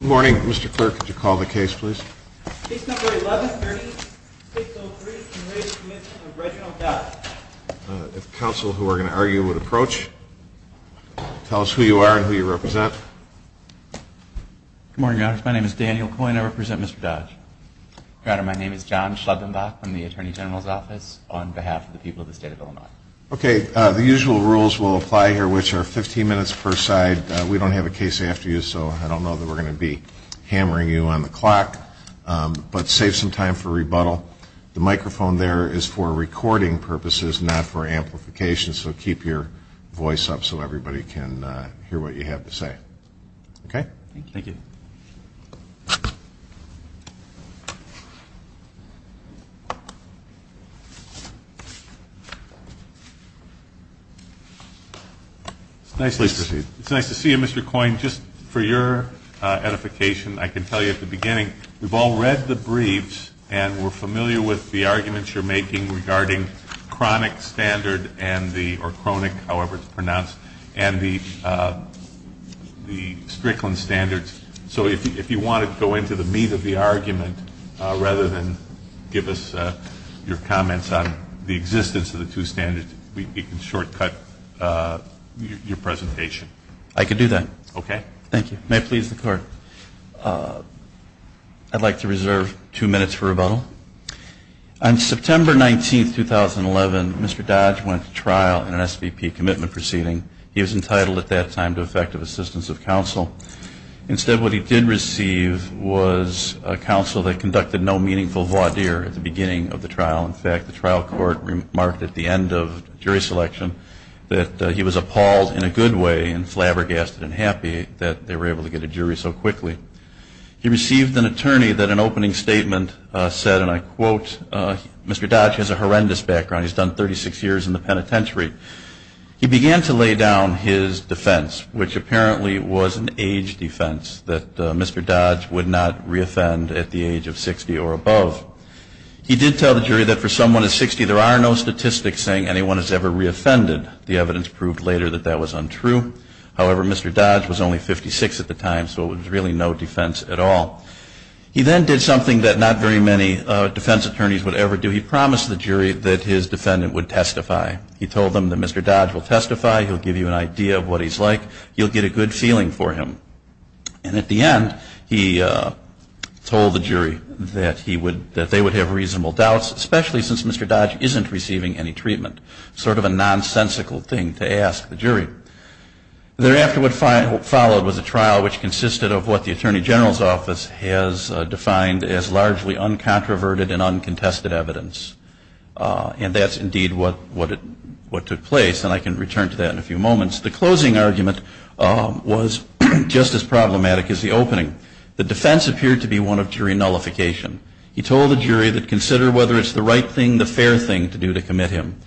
Good morning, Mr. Clerk. Could you call the case, please? Case number 1130, State Bill 3, is in re the Commitment of Reginald Dodge. If counsel who are going to argue would approach, tell us who you are and who you represent. Good morning, Your Honor. My name is Daniel Coyne. I represent Mr. Dodge. Your Honor, my name is John Schleppenbach from the Attorney General's Office on behalf of the people of the State of Illinois. Okay, the usual rules will apply here, which are 15 minutes per side. We don't have a case after you, so I don't know that we're going to be hammering you on the clock. But save some time for rebuttal. The microphone there is for recording purposes, not for amplification, so keep your voice up so everybody can hear what you have to say. Okay? Thank you. Please proceed. It's nice to see you, Mr. Coyne. Just for your edification, I can tell you at the beginning we've all read the briefs and we're familiar with the arguments you're making regarding chronic standard and the or chronic, however it's pronounced, and the Strickland standards. So if you want to go into the meat of the argument rather than give us your comments on the existence of the two standards, we can shortcut your presentation. I could do that. Okay. Thank you. May it please the Court. I'd like to reserve two minutes for rebuttal. On September 19, 2011, Mr. Dodge went to trial in an SVP commitment proceeding. He was entitled at that time to effective assistance of counsel. Instead, what he did receive was counsel that conducted no meaningful voir dire at the beginning of the trial. In fact, the trial court remarked at the end of jury selection that he was appalled in a good way and flabbergasted and happy that they were able to get a jury so quickly. He received an attorney that an opening statement said, and I quote, Mr. Dodge has a horrendous background. He's done 36 years in the penitentiary. He began to lay down his defense, which apparently was an age defense, that Mr. Dodge would not reoffend at the age of 60 or above. He did tell the jury that for someone who's 60 there are no statistics saying anyone has ever reoffended. The evidence proved later that that was untrue. However, Mr. Dodge was only 56 at the time, so it was really no defense at all. He then did something that not very many defense attorneys would ever do. He promised the jury that his defendant would testify. He told them that Mr. Dodge will testify. He'll give you an idea of what he's like. You'll get a good feeling for him. And at the end, he told the jury that they would have reasonable doubts, especially since Mr. Dodge isn't receiving any treatment, sort of a nonsensical thing to ask the jury. Thereafter, what followed was a trial which consisted of what the Attorney General's Office has defined as largely uncontroverted and uncontested evidence. And that's indeed what took place, and I can return to that in a few moments. The closing argument was just as problematic as the opening. The defense appeared to be one of jury nullification. He told the jury to consider whether it's the right thing, the fair thing, to do to commit him.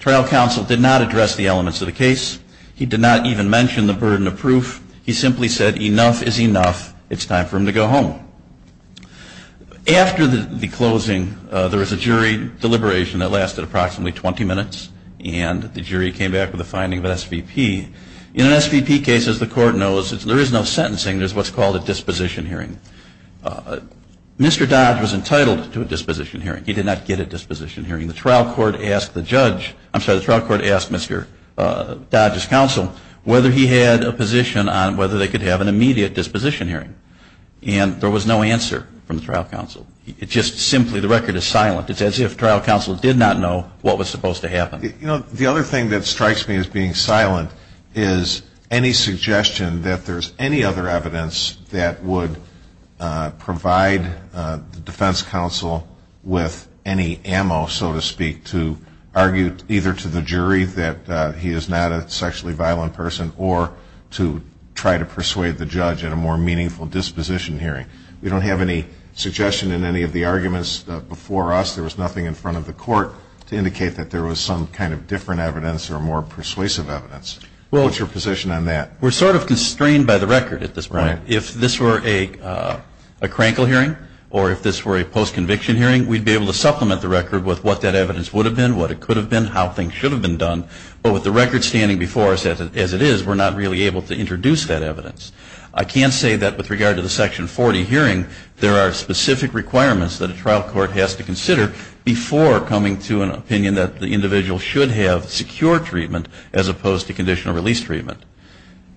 Trial counsel did not address the elements of the case. He did not even mention the burden of proof. He simply said enough is enough. It's time for him to go home. After the closing, there was a jury deliberation that lasted approximately 20 minutes, and the jury came back with a finding of an SVP. In an SVP case, as the Court knows, there is no sentencing. There's what's called a disposition hearing. Mr. Dodge was entitled to a disposition hearing. He did not get a disposition hearing. The trial court asked the judge, I'm sorry, the trial court asked Mr. Dodge's counsel whether he had a position on whether they could have an immediate disposition hearing. And there was no answer from the trial counsel. It just simply, the record is silent. It's as if trial counsel did not know what was supposed to happen. You know, the other thing that strikes me as being silent is any suggestion that there's any other evidence that would provide the defense counsel with any ammo, so to speak, to argue either to the jury that he is not a sexually violent person or to try to persuade the judge in a more meaningful disposition hearing. We don't have any suggestion in any of the arguments before us. There was nothing in front of the Court to indicate that there was some kind of different evidence or more persuasive evidence. What's your position on that? We're sort of constrained by the record at this point. Right. If this were a crankle hearing or if this were a post-conviction hearing, we'd be able to supplement the record with what that evidence would have been, what it could have been, how things should have been done. But with the record standing before us as it is, we're not really able to introduce that evidence. I can't say that with regard to the Section 40 hearing, there are specific requirements that a trial court has to consider before coming to an opinion that the individual should have secure treatment as opposed to conditional release treatment.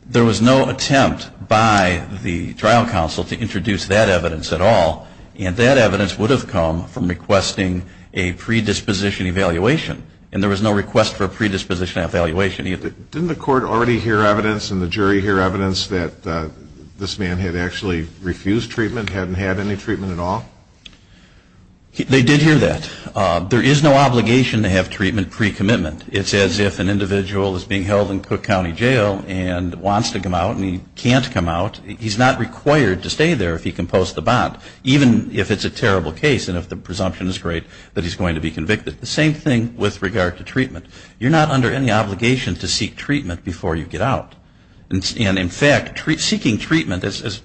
There was no attempt by the trial counsel to introduce that evidence at all, and that evidence would have come from requesting a predisposition evaluation, and there was no request for a predisposition evaluation either. Didn't the Court already hear evidence and the jury hear evidence that this man had actually refused treatment, hadn't had any treatment at all? They did hear that. There is no obligation to have treatment pre-commitment. It's as if an individual is being held in Cook County Jail and wants to come out and he can't come out. He's not required to stay there if he can post the bond, even if it's a terrible case and if the presumption is great that he's going to be convicted. The same thing with regard to treatment. You're not under any obligation to seek treatment before you get out. And in fact, seeking treatment, as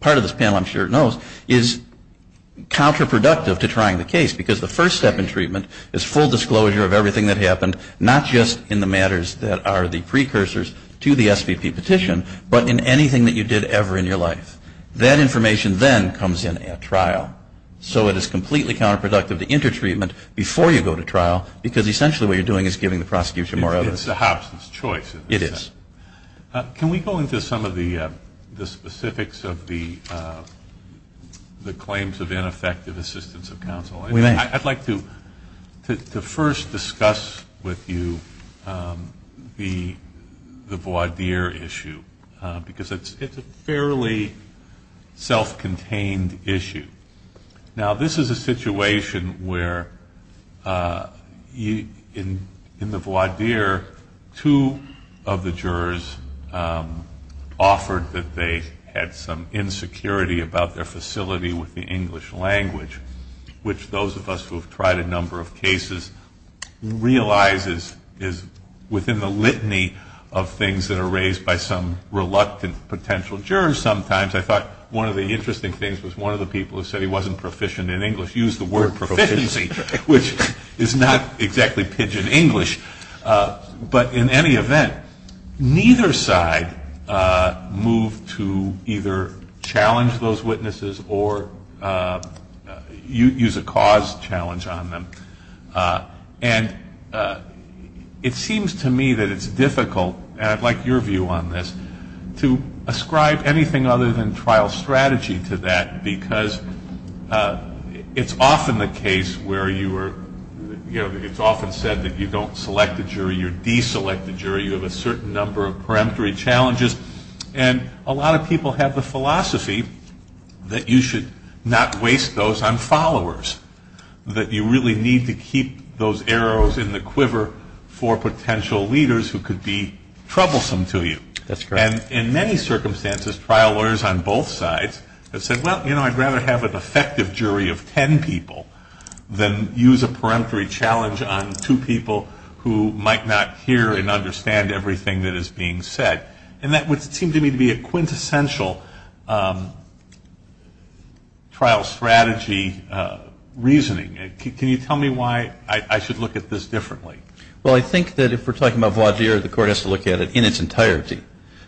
part of this panel I'm sure knows, is counterproductive to trying the case, because the first step in treatment is full disclosure of everything that happened, not just in the matters that are the precursors to the SVP petition, but in anything that you did ever in your life. That information then comes in at trial. So it is completely counterproductive to intertreatment before you go to trial, because essentially what you're doing is giving the prosecution more evidence. It's a hobson's choice. It is. Can we go into some of the specifics of the claims of ineffective assistance of counsel? We may. I'd like to first discuss with you the voir dire issue, because it's a fairly self-contained issue. Now this is a situation where in the voir dire, two of the jurors offered that they had some insecurity about their facility with the English language, which those of us who have tried a number of cases realize is within the litany of things that are raised by some reluctant potential jurors sometimes. I thought one of the interesting things was one of the people who said he wasn't proficient in English used the word proficiency, which is not exactly pidgin English. But in any event, neither side moved to either challenge those witnesses or use a cause challenge on them. And it seems to me that it's difficult, and I'd like your view on this, to ascribe anything other than trial strategy to that, because it's often the case where it's often said that you don't select a jury, you deselect a jury, you have a certain number of peremptory challenges. And a lot of people have the philosophy that you should not waste those on followers, that you really need to keep those arrows in the quiver for potential leaders who could be troublesome to you. That's correct. And in many circumstances, trial lawyers on both sides have said, well, you know, I'd rather have an effective jury of ten people than use a peremptory challenge on two people who might not hear and understand everything that is being said. And that would seem to me to be a quintessential trial strategy reasoning. Can you tell me why I should look at this differently? Well, I think that if we're talking about Vaugier, the court has to look at it in its entirety.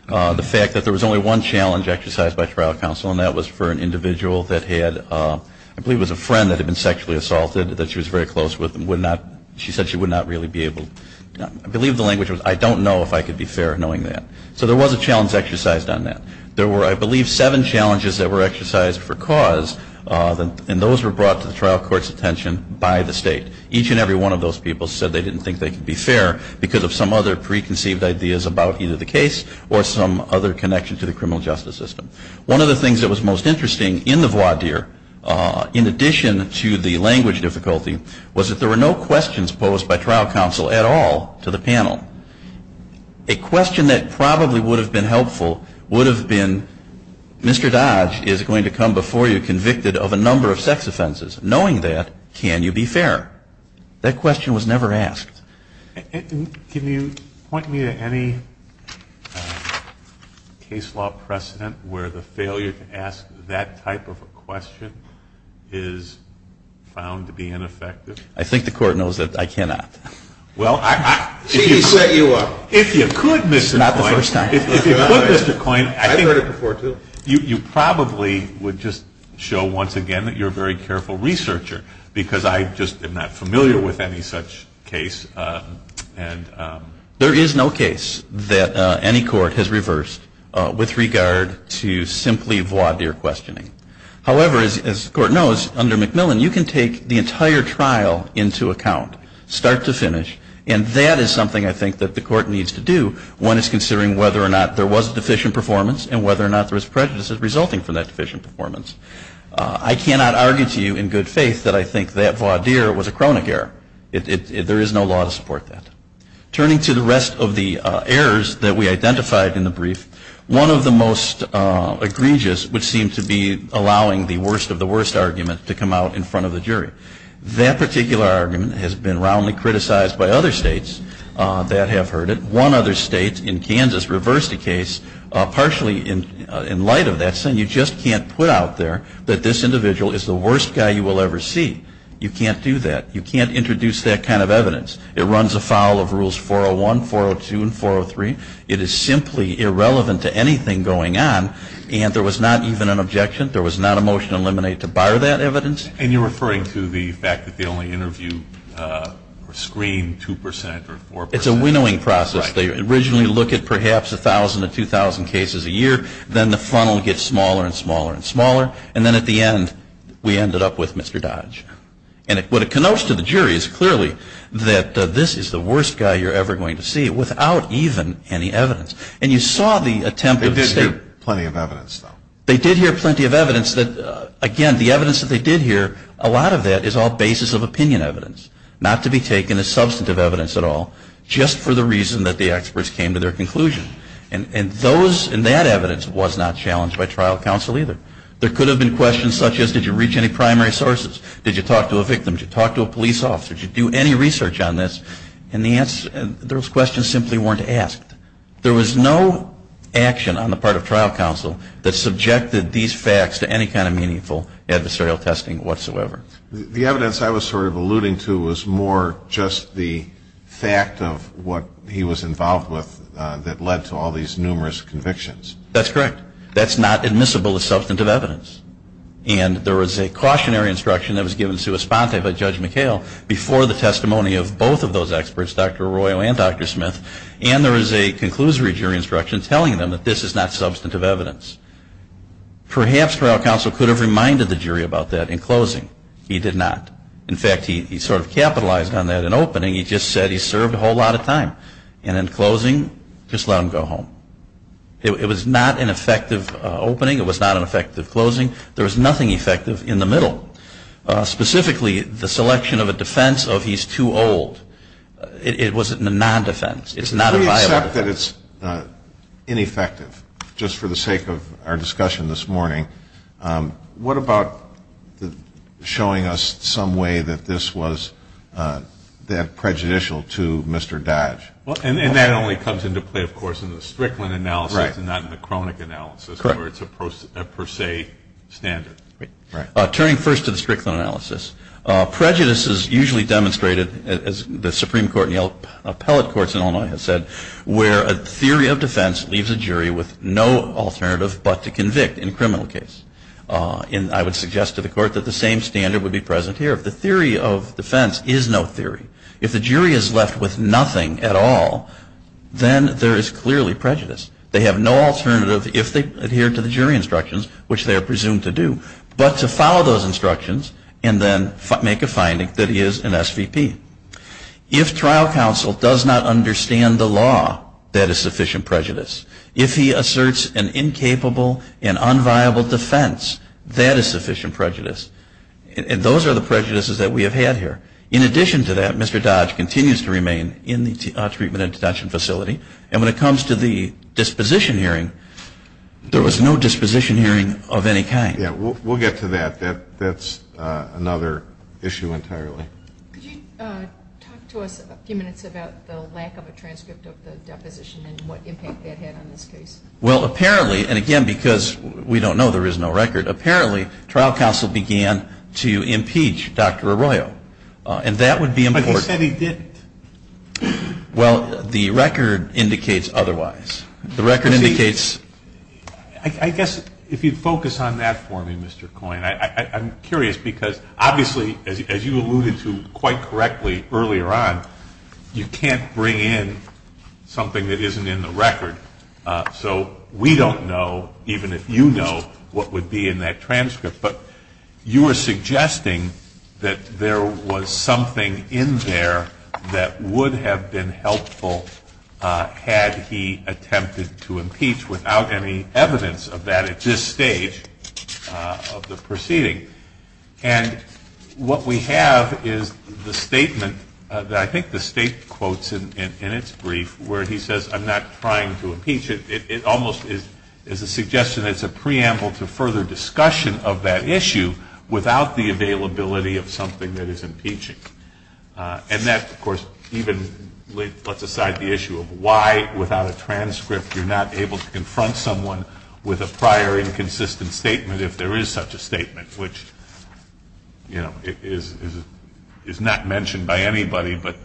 The fact that there was only one challenge exercised by trial counsel, and that was for an individual that had, I believe it was a friend that had been sexually assaulted that she was very close with and would not, she said she would not really be able to, I believe the language was, I don't know if I could be fair knowing that. So there was a challenge exercised on that. There were, I believe, seven challenges that were exercised for cause, and those were brought to the trial court's attention by the State. Each and every one of those people said they didn't think they could be fair because of some other preconceived ideas about either the case or some other connection to the criminal justice system. One of the things that was most interesting in the Vaugier, in addition to the language difficulty, was that there were no questions posed by trial counsel at all to the panel. A question that probably would have been helpful would have been, Mr. Dodge is going to come before you convicted of a number of sex offenses. Knowing that, can you be fair? That question was never asked. And can you point me to any case law precedent where the failure to ask that type of a question is found to be ineffective? I think the Court knows that I cannot. Well, if you could, Mr. Coyne. It's not the first time. If you could, Mr. Coyne. I've heard it before, too. You probably would just show once again that you're a very careful researcher because I just am not familiar with any such case. There is no case that any court has reversed with regard to simply Vaugier questioning. However, as the Court knows, under McMillan, you can take the entire trial into account, start to finish. And that is something I think that the Court needs to do when it's considering whether or not there was deficient performance and whether or not there was prejudices resulting from that deficient performance. I cannot argue to you in good faith that I think that Vaugier was a chronic error. There is no law to support that. Turning to the rest of the errors that we identified in the brief, one of the most egregious would seem to be allowing the worst of the worst argument to come out in front of the jury. That particular argument has been roundly criticized by other states that have heard it. One other state in Kansas reversed a case partially in light of that saying you just can't put out there that this individual is the worst guy you will ever see. You can't do that. You can't introduce that kind of evidence. It runs afoul of Rules 401, 402, and 403. It is simply irrelevant to anything going on. And there was not even an objection. There was not a motion to eliminate to bar that evidence. And you're referring to the fact that the only interview screened 2 percent or 4 percent. It's a winnowing process. They originally look at perhaps 1,000 to 2,000 cases a year. Then the funnel gets smaller and smaller and smaller. And then at the end we ended up with Mr. Dodge. And what it connotes to the jury is clearly that this is the worst guy you're ever going to see without even any evidence. And you saw the attempt of the state. They did hear plenty of evidence, though. They did hear plenty of evidence. Again, the evidence that they did hear, a lot of that is all basis of opinion evidence, not to be taken as substantive evidence at all, just for the reason that the experts came to their conclusion. And that evidence was not challenged by trial counsel either. There could have been questions such as did you reach any primary sources? Did you talk to a victim? Did you talk to a police officer? Did you do any research on this? And those questions simply weren't asked. There was no action on the part of trial counsel that subjected these facts to any kind of meaningful adversarial testing whatsoever. The evidence I was sort of alluding to was more just the fact of what he was involved with that led to all these numerous convictions. That's correct. That's not admissible as substantive evidence. And there was a cautionary instruction that was given to us by Judge McHale before the testimony of both of those experts, Dr. Arroyo and Dr. Smith, and there is a conclusory jury instruction telling them that this is not substantive evidence. Perhaps trial counsel could have reminded the jury about that in closing. He did not. In fact, he sort of capitalized on that in opening. He just said he served a whole lot of time. And in closing, just let him go home. It was not an effective opening. It was not an effective closing. There was nothing effective in the middle, specifically the selection of a defense of he's too old. It was a non-defense. It's not a viable defense. If we accept that it's ineffective, just for the sake of our discussion this morning, what about showing us some way that this was prejudicial to Mr. Dodge? And that only comes into play, of course, in the Strickland analysis and not in the Kronick analysis where it's a per se standard. Right. Turning first to the Strickland analysis, prejudice is usually demonstrated, as the Supreme Court and the appellate courts in Illinois have said, where a theory of defense leaves a jury with no alternative but to convict in a criminal case. And I would suggest to the Court that the same standard would be present here. If the theory of defense is no theory, if the jury is left with nothing at all, then there is clearly prejudice. They have no alternative if they adhere to the jury instructions, which they are presumed to do. But to follow those instructions and then make a finding that he is an SVP. If trial counsel does not understand the law, that is sufficient prejudice. If he asserts an incapable and unviable defense, that is sufficient prejudice. And those are the prejudices that we have had here. In addition to that, Mr. Dodge continues to remain in the treatment and detention facility. And when it comes to the disposition hearing, there was no disposition hearing of any kind. Yeah, we'll get to that. That's another issue entirely. Could you talk to us a few minutes about the lack of a transcript of the deposition and what impact that had on this case? Well, apparently, and again, because we don't know, there is no record, apparently trial counsel began to impeach Dr. Arroyo. And that would be important. But he said he didn't. Well, the record indicates otherwise. The record indicates. I guess if you'd focus on that for me, Mr. Coyne. I'm curious because obviously, as you alluded to quite correctly earlier on, you can't bring in something that isn't in the record. So we don't know, even if you know, what would be in that transcript. But you were suggesting that there was something in there that would have been helpful had he attempted to impeach without any evidence of that at this stage of the proceeding. And what we have is the statement that I think the state quotes in its brief where he says, I'm not trying to impeach. It almost is a suggestion that it's a preamble to further discussion of that issue without the availability of something that is impeaching. And that, of course, even puts aside the issue of why, without a transcript, you're not able to confront someone with a prior inconsistent statement if there is such a statement, which is not mentioned by anybody but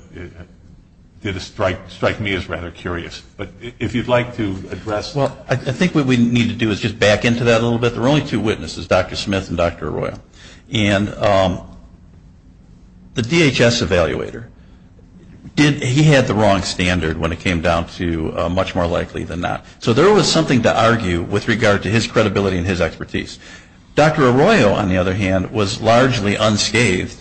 did strike me as rather curious. But if you'd like to address that. Well, I think what we need to do is just back into that a little bit. There are only two witnesses, Dr. Smith and Dr. Arroyo. And the DHS evaluator, he had the wrong standard when it came down to much more likely than not. So there was something to argue with regard to his credibility and his expertise. Dr. Arroyo, on the other hand, was largely unscathed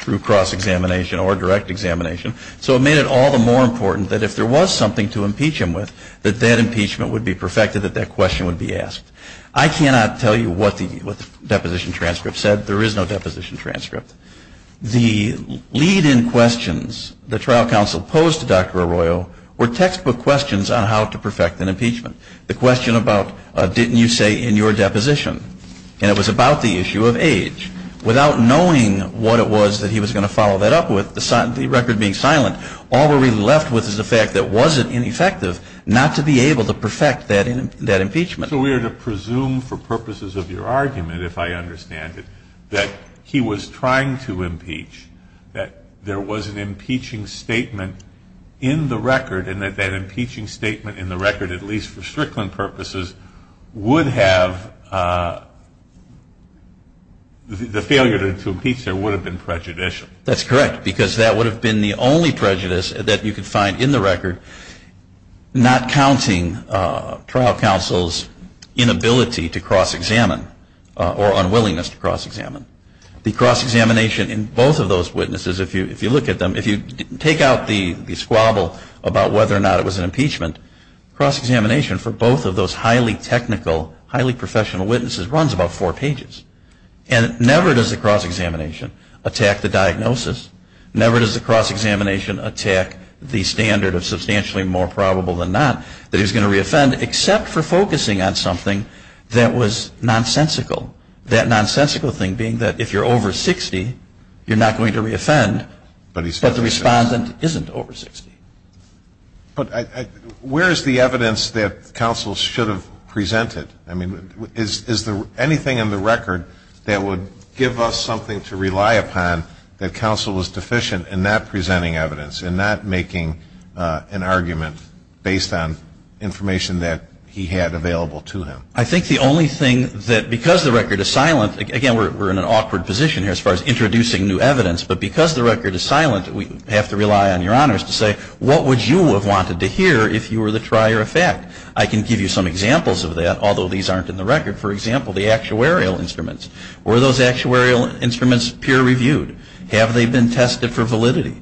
through cross-examination or direct examination. So it made it all the more important that if there was something to impeach him with, that that impeachment would be perfected, that that question would be asked. I cannot tell you what the deposition transcript said. There is no deposition transcript. The lead-in questions the trial counsel posed to Dr. Arroyo were textbook questions on how to perfect an impeachment. The question about didn't you say in your deposition. And it was about the issue of age. Without knowing what it was that he was going to follow that up with, the record being silent, all we're really left with is the fact that was it ineffective not to be able to perfect that impeachment. So we are to presume for purposes of your argument, if I understand it, that he was trying to impeach, that there was an impeaching statement in the record, and that that impeaching statement in the record, at least for Strickland purposes, would have, the failure to impeach there would have been prejudicial. That's correct, because that would have been the only prejudice that you could find in the record, not counting trial counsel's inability to cross-examine or unwillingness to cross-examine. The cross-examination in both of those witnesses, if you look at them, if you take out the squabble about whether or not it was an impeachment, cross-examination for both of those highly technical, highly professional witnesses runs about four pages. And never does the cross-examination attack the diagnosis. Never does the cross-examination attack the standard of substantially more probable than not that he's going to re-offend, except for focusing on something that was nonsensical. That nonsensical thing being that if you're over 60, you're not going to re-offend, but the respondent isn't over 60. But where is the evidence that counsel should have presented? I mean, is there anything in the record that would give us something to rely upon that counsel was deficient in not presenting evidence, in not making an argument based on information that he had available to him? I think the only thing that, because the record is silent, again, we're in an awkward position here as far as introducing new evidence, but because the record is silent, we have to rely on your honors to say, what would you have wanted to hear if you were the trier of fact? I can give you some examples of that, although these aren't in the record. For example, the actuarial instruments. Were those actuarial instruments peer reviewed? Have they been tested for validity?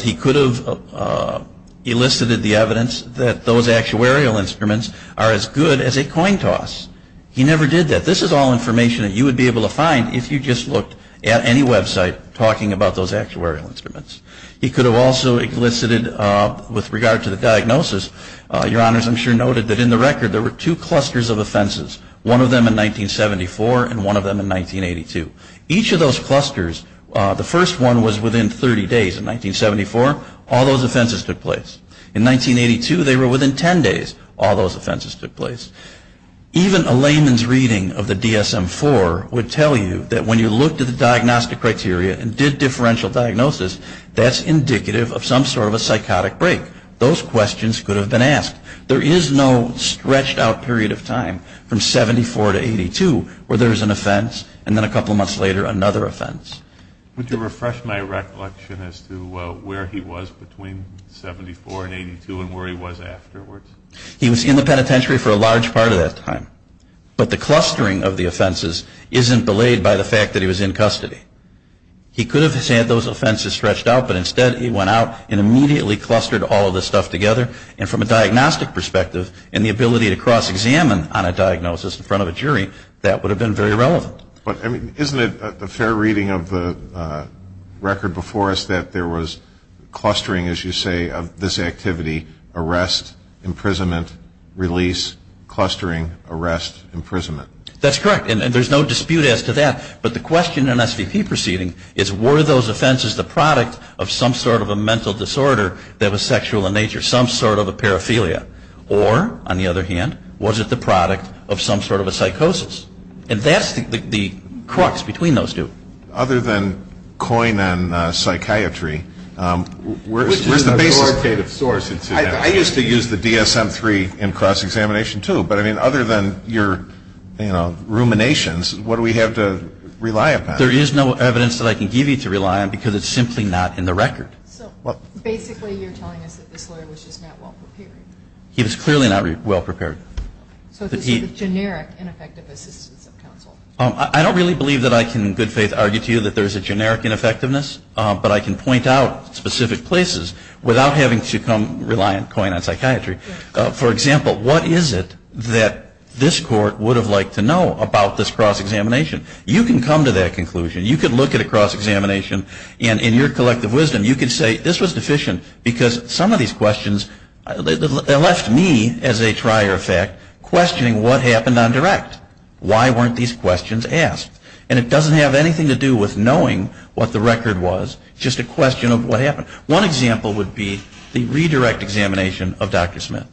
He could have elicited the evidence that those actuarial instruments are as good as a coin toss. He never did that. This is all information that you would be able to find if you just looked at any website talking about those actuarial instruments. He could have also elicited, with regard to the diagnosis, your honors I'm sure noted that in the record there were two clusters of offenses. One of them in 1974 and one of them in 1982. Each of those clusters, the first one was within 30 days in 1974. All those offenses took place. In 1982, they were within 10 days. All those offenses took place. Even a layman's reading of the DSM-IV would tell you that when you looked at the diagnostic criteria and did differential diagnosis, that's indicative of some sort of a psychotic break. Those questions could have been asked. There is no stretched out period of time from 74 to 82 where there is an offense and then a couple months later another offense. Would you refresh my recollection as to where he was between 74 and 82 and where he was afterwards? He was in the penitentiary for a large part of that time. But the clustering of the offenses isn't belayed by the fact that he was in custody. He could have had those offenses stretched out, but instead he went out and immediately clustered all of this stuff together. And from a diagnostic perspective, and the ability to cross-examine on a diagnosis in front of a jury, that would have been very relevant. Isn't it a fair reading of the record before us that there was clustering, as you say, of this activity, arrest, imprisonment, release, clustering, arrest, imprisonment? That's correct. And there's no dispute as to that. But the question in SVP proceeding is were those offenses the product of some sort of a mental disorder that was sexual in nature, some sort of a paraphilia? Or, on the other hand, was it the product of some sort of a psychosis? And that's the crux between those two. Other than coin and psychiatry, where's the basis? I used to use the DSM-III in cross-examination, too. But, I mean, other than your ruminations, what do we have to rely upon? There is no evidence that I can give you to rely on because it's simply not in the record. So basically you're telling us that this lawyer was just not well-prepared. He was clearly not well-prepared. So this is the generic ineffective assistance of counsel. I don't really believe that I can in good faith argue to you that there's a generic ineffectiveness, but I can point out specific places without having to rely on coin and psychiatry. For example, what is it that this court would have liked to know about this cross-examination? You can come to that conclusion. You could look at a cross-examination and, in your collective wisdom, you could say, this was deficient because some of these questions left me, as a trier of fact, questioning what happened on direct. Why weren't these questions asked? And it doesn't have anything to do with knowing what the record was, just a question of what happened. One example would be the redirect examination of Dr. Smith.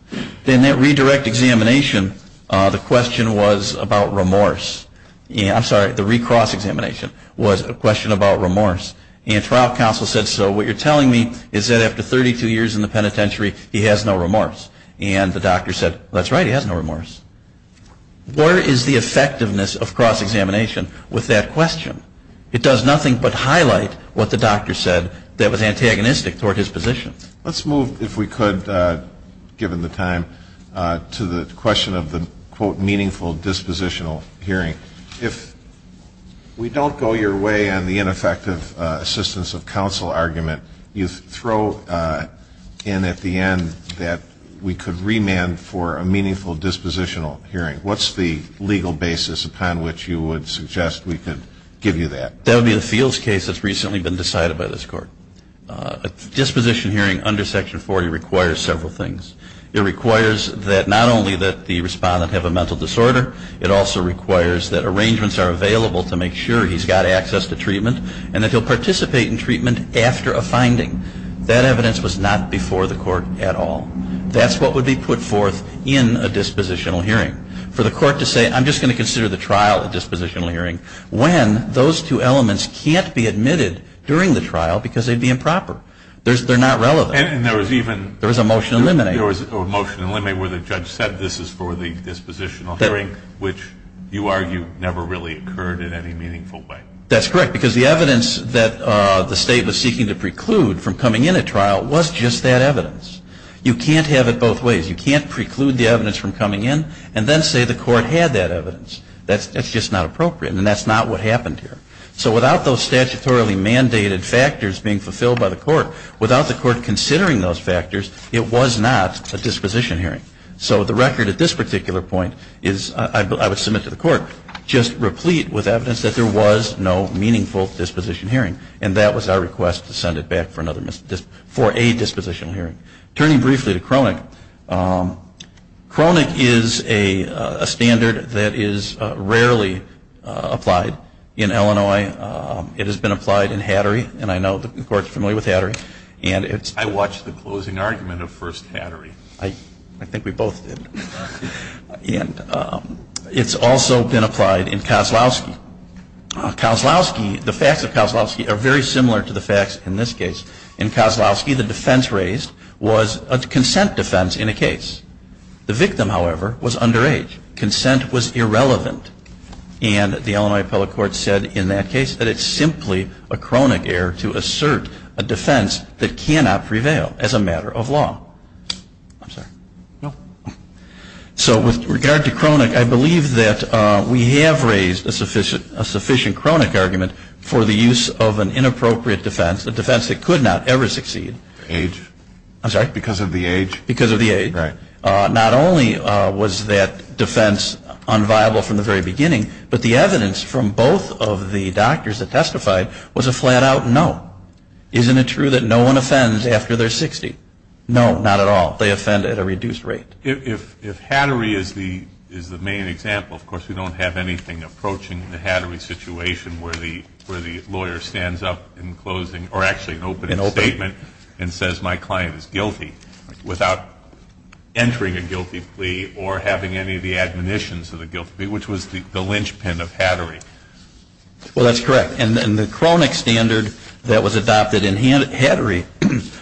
In that redirect examination, the question was about remorse. I'm sorry, the re-cross-examination was a question about remorse. And trial counsel said, so what you're telling me is that after 32 years in the penitentiary, he has no remorse. And the doctor said, that's right, he has no remorse. Where is the effectiveness of cross-examination with that question? It does nothing but highlight what the doctor said that was antagonistic toward his position. Let's move, if we could, given the time, to the question of the, quote, meaningful dispositional hearing. If we don't go your way on the ineffective assistance of counsel argument, you throw in at the end that we could remand for a meaningful dispositional hearing. What's the legal basis upon which you would suggest we could give you that? That would be the Fields case that's recently been decided by this Court. A disposition hearing under Section 40 requires several things. It requires that not only that the respondent have a mental disorder, it also requires that arrangements are available to make sure he's got access to treatment, and that he'll participate in treatment after a finding. That evidence was not before the Court at all. That's what would be put forth in a dispositional hearing for the Court to say, I'm just going to consider the trial a dispositional hearing, when those two elements can't be admitted during the trial because they'd be improper. They're not relevant. And there was even There was a motion to eliminate. There was a motion to eliminate where the judge said this is for the dispositional hearing, which you argue never really occurred in any meaningful way. That's correct, because the evidence that the State was seeking to preclude from coming in at trial was just that evidence. You can't have it both ways. You can't preclude the evidence from coming in and then say the Court had that evidence. That's just not appropriate, and that's not what happened here. So without those statutorily mandated factors being fulfilled by the Court, without the Court considering those factors, it was not a disposition hearing. So the record at this particular point is, I would submit to the Court, just replete with evidence that there was no meaningful disposition hearing, and that was our request to send it back for a dispositional hearing. Turning briefly to Cronick, Cronick is a standard that is rarely applied in Illinois. It has been applied in Hattery, and I know the Court is familiar with Hattery. I watched the closing argument of First Hattery. I think we both did. And it's also been applied in Kozlowski. The facts of Kozlowski are very similar to the facts in this case. In Kozlowski, the defense raised was a consent defense in a case. The victim, however, was underage. Consent was irrelevant. And the Illinois Appellate Court said in that case that it's simply a Cronick error to assert a defense that cannot prevail as a matter of law. I'm sorry. No. So with regard to Cronick, I believe that we have raised a sufficient Cronick argument for the use of an inappropriate defense, a defense that could not ever succeed. Age? I'm sorry? Because of the age? Because of the age. Right. Not only was that defense unviable from the very beginning, but the evidence from both of the doctors that testified was a flat-out no. Isn't it true that no one offends after they're 60? No, not at all. They offend at a reduced rate. If Hattery is the main example, of course, we don't have anything approaching the Hattery situation where the lawyer stands up in closing or actually in opening statement and says, my client is guilty without entering a guilty plea or having any of the admonitions of the guilty plea, which was the linchpin of Hattery. Well, that's correct. And the Cronick standard that was adopted in Hattery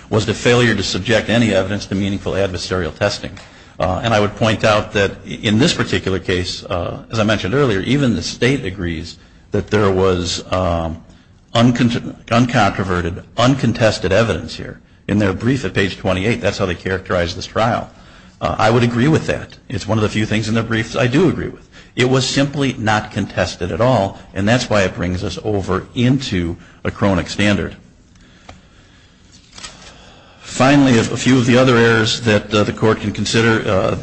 was the failure to subject any evidence to meaningful adversarial testing. And I would point out that in this particular case, as I mentioned earlier, even the State agrees that there was uncontroverted, uncontested evidence here. In their brief at page 28, that's how they characterized this trial. I would agree with that. It's one of the few things in their briefs I do agree with. It was simply not contested at all. And that's why it brings us over into a Cronick standard. Finally, a few of the other errors that the Court can consider,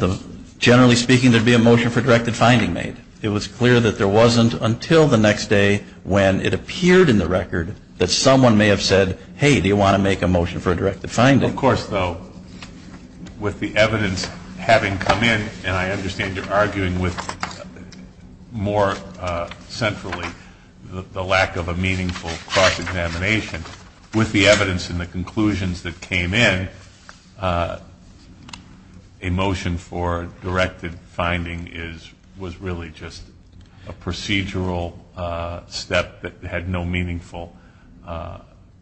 generally speaking, there would be a motion for a directed finding made. It was clear that there wasn't until the next day when it appeared in the record that someone may have said, hey, do you want to make a motion for a directed finding? Of course, though, with the evidence having come in, and I understand you're arguing with more centrally the lack of a meaningful cross-examination. With the evidence and the conclusions that came in, a motion for a directed finding was really just a procedural step that had no meaningful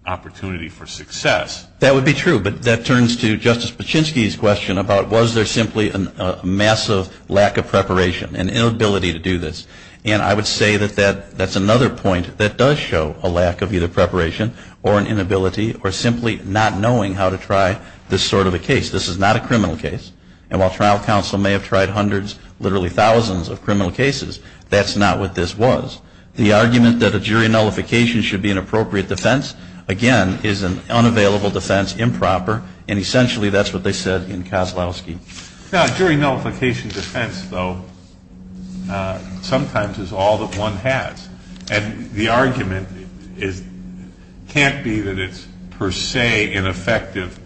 opportunity for success. That would be true. But that turns to Justice Paczynski's question about was there simply a massive lack of preparation, an inability to do this. And I would say that that's another point that does show a lack of either preparation or an inability or simply not knowing how to try this sort of a case. This is not a criminal case. And while trial counsel may have tried hundreds, literally thousands of criminal cases, that's not what this was. The argument that a jury nullification should be an appropriate defense, again, is an unavailable defense, improper, and essentially that's what they said in Kozlowski. Now, a jury nullification defense, though, sometimes is all that one has. And the argument can't be that it's per se ineffective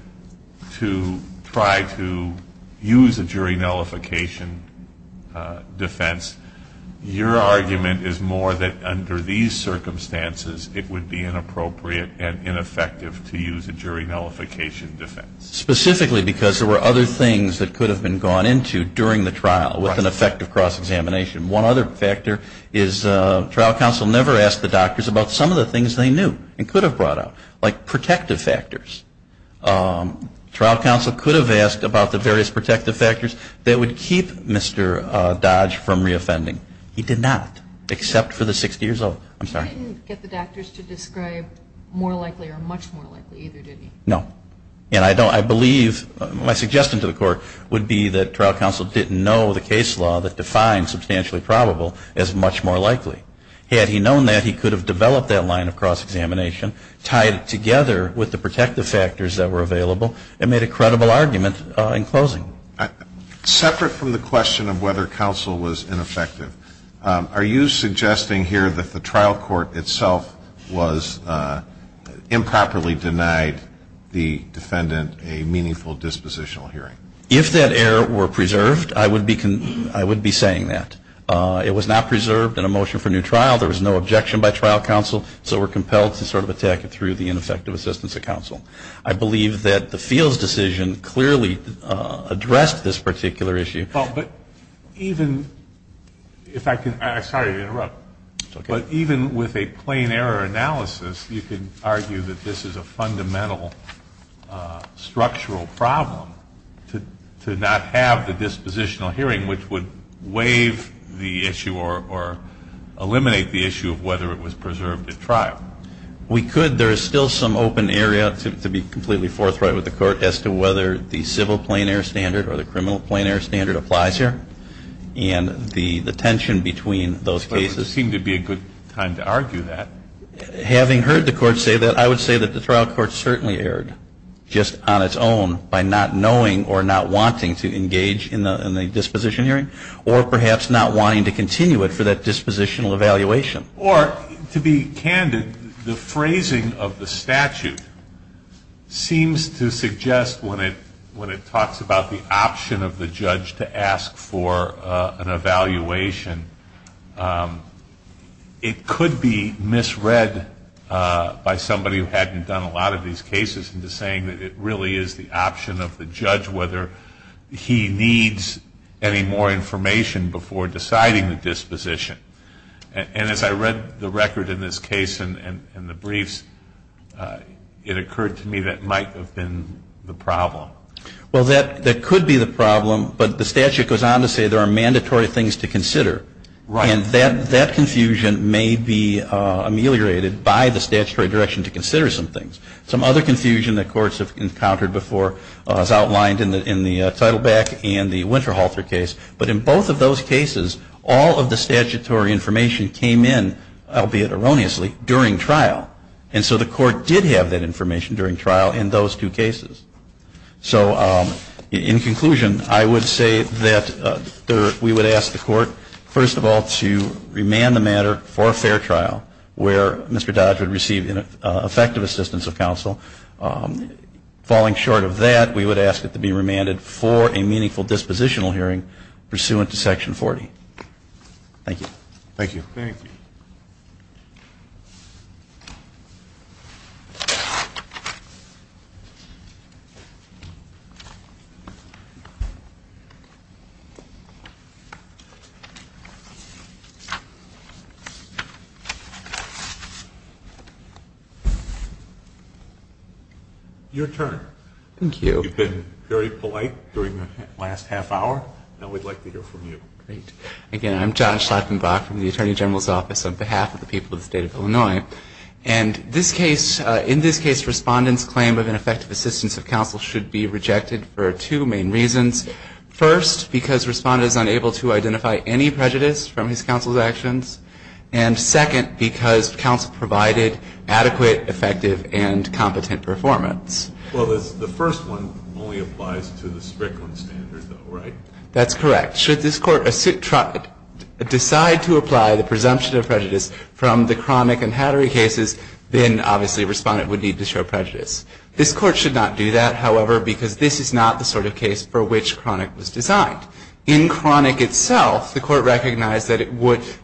to try to use a jury nullification defense. Your argument is more that under these circumstances, it would be inappropriate and ineffective to use a jury nullification defense. Specifically because there were other things that could have been gone into during the trial with an effective cross-examination. One other factor is trial counsel never asked the doctors about some of the things they knew and could have brought up, like protective factors. Trial counsel could have asked about the various protective factors that would keep Mr. Dodge from reoffending. He did not, except for the 60 years old. I'm sorry. He didn't get the doctors to describe more likely or much more likely, either, did he? No. And I believe my suggestion to the Court would be that trial counsel didn't know the case law that defined substantially probable as much more likely. Had he known that, he could have developed that line of cross-examination, tied it together with the protective factors that were available, and made a credible argument in closing. Separate from the question of whether counsel was ineffective, are you suggesting here that the trial court itself was improperly denied the defendant a meaningful dispositional hearing? If that error were preserved, I would be saying that. It was not preserved in a motion for new trial. There was no objection by trial counsel, I believe that the Fields decision clearly addressed this particular issue. Even with a plain error analysis, you could argue that this is a fundamental structural problem to not have the dispositional hearing, which would waive the issue or eliminate the issue of whether it was preserved at trial. We could. There is still some open area to be completely forthright with the Court as to whether the civil plain error standard or the criminal plain error standard applies here, and the tension between those cases. It would seem to be a good time to argue that. Having heard the Court say that, I would say that the trial court certainly erred just on its own by not knowing or not wanting to engage in the disposition hearing, or perhaps not wanting to continue it for that dispositional evaluation. Or, to be candid, the phrasing of the statute seems to suggest, when it talks about the option of the judge to ask for an evaluation, it could be misread by somebody who hadn't done a lot of these cases into saying that it really is the option of the judge whether he needs any more information before deciding the disposition. And as I read the record in this case and the briefs, it occurred to me that might have been the problem. Well, that could be the problem, but the statute goes on to say there are mandatory things to consider. Right. And that confusion may be ameliorated by the statutory direction to consider some things. Some other confusion that courts have encountered before is outlined in the Teitelbach and the Winterhalter case. But in both of those cases, all of the statutory information came in, albeit erroneously, during trial. And so the court did have that information during trial in those two cases. So, in conclusion, I would say that we would ask the court, first of all, to remand the matter for a fair trial where Mr. Dodge would receive effective assistance of counsel. Falling short of that, we would ask it to be remanded for a meaningful dispositional hearing pursuant to Section 40. Thank you. Thank you. Thank you. Your turn. Thank you. You've been very polite during the last half hour. Now we'd like to hear from you. Great. Again, I'm John Schlachtenbach from the Attorney General's Office on behalf of the people of the State of Illinois. And in this case, Respondent's claim of ineffective assistance of counsel should be rejected for two main reasons. First, because Respondent is unable to identify any prejudice from his counsel's actions. And second, because counsel provided adequate, effective, and competent performance. Well, the first one only applies to the Strickland standard, though, right? That's correct. Should this Court decide to apply the presumption of prejudice from the Kronick and Hattery cases, then obviously Respondent would need to show prejudice. This Court should not do that, however, because this is not the sort of case for which Kronick was designed. In Kronick itself, the Court recognized that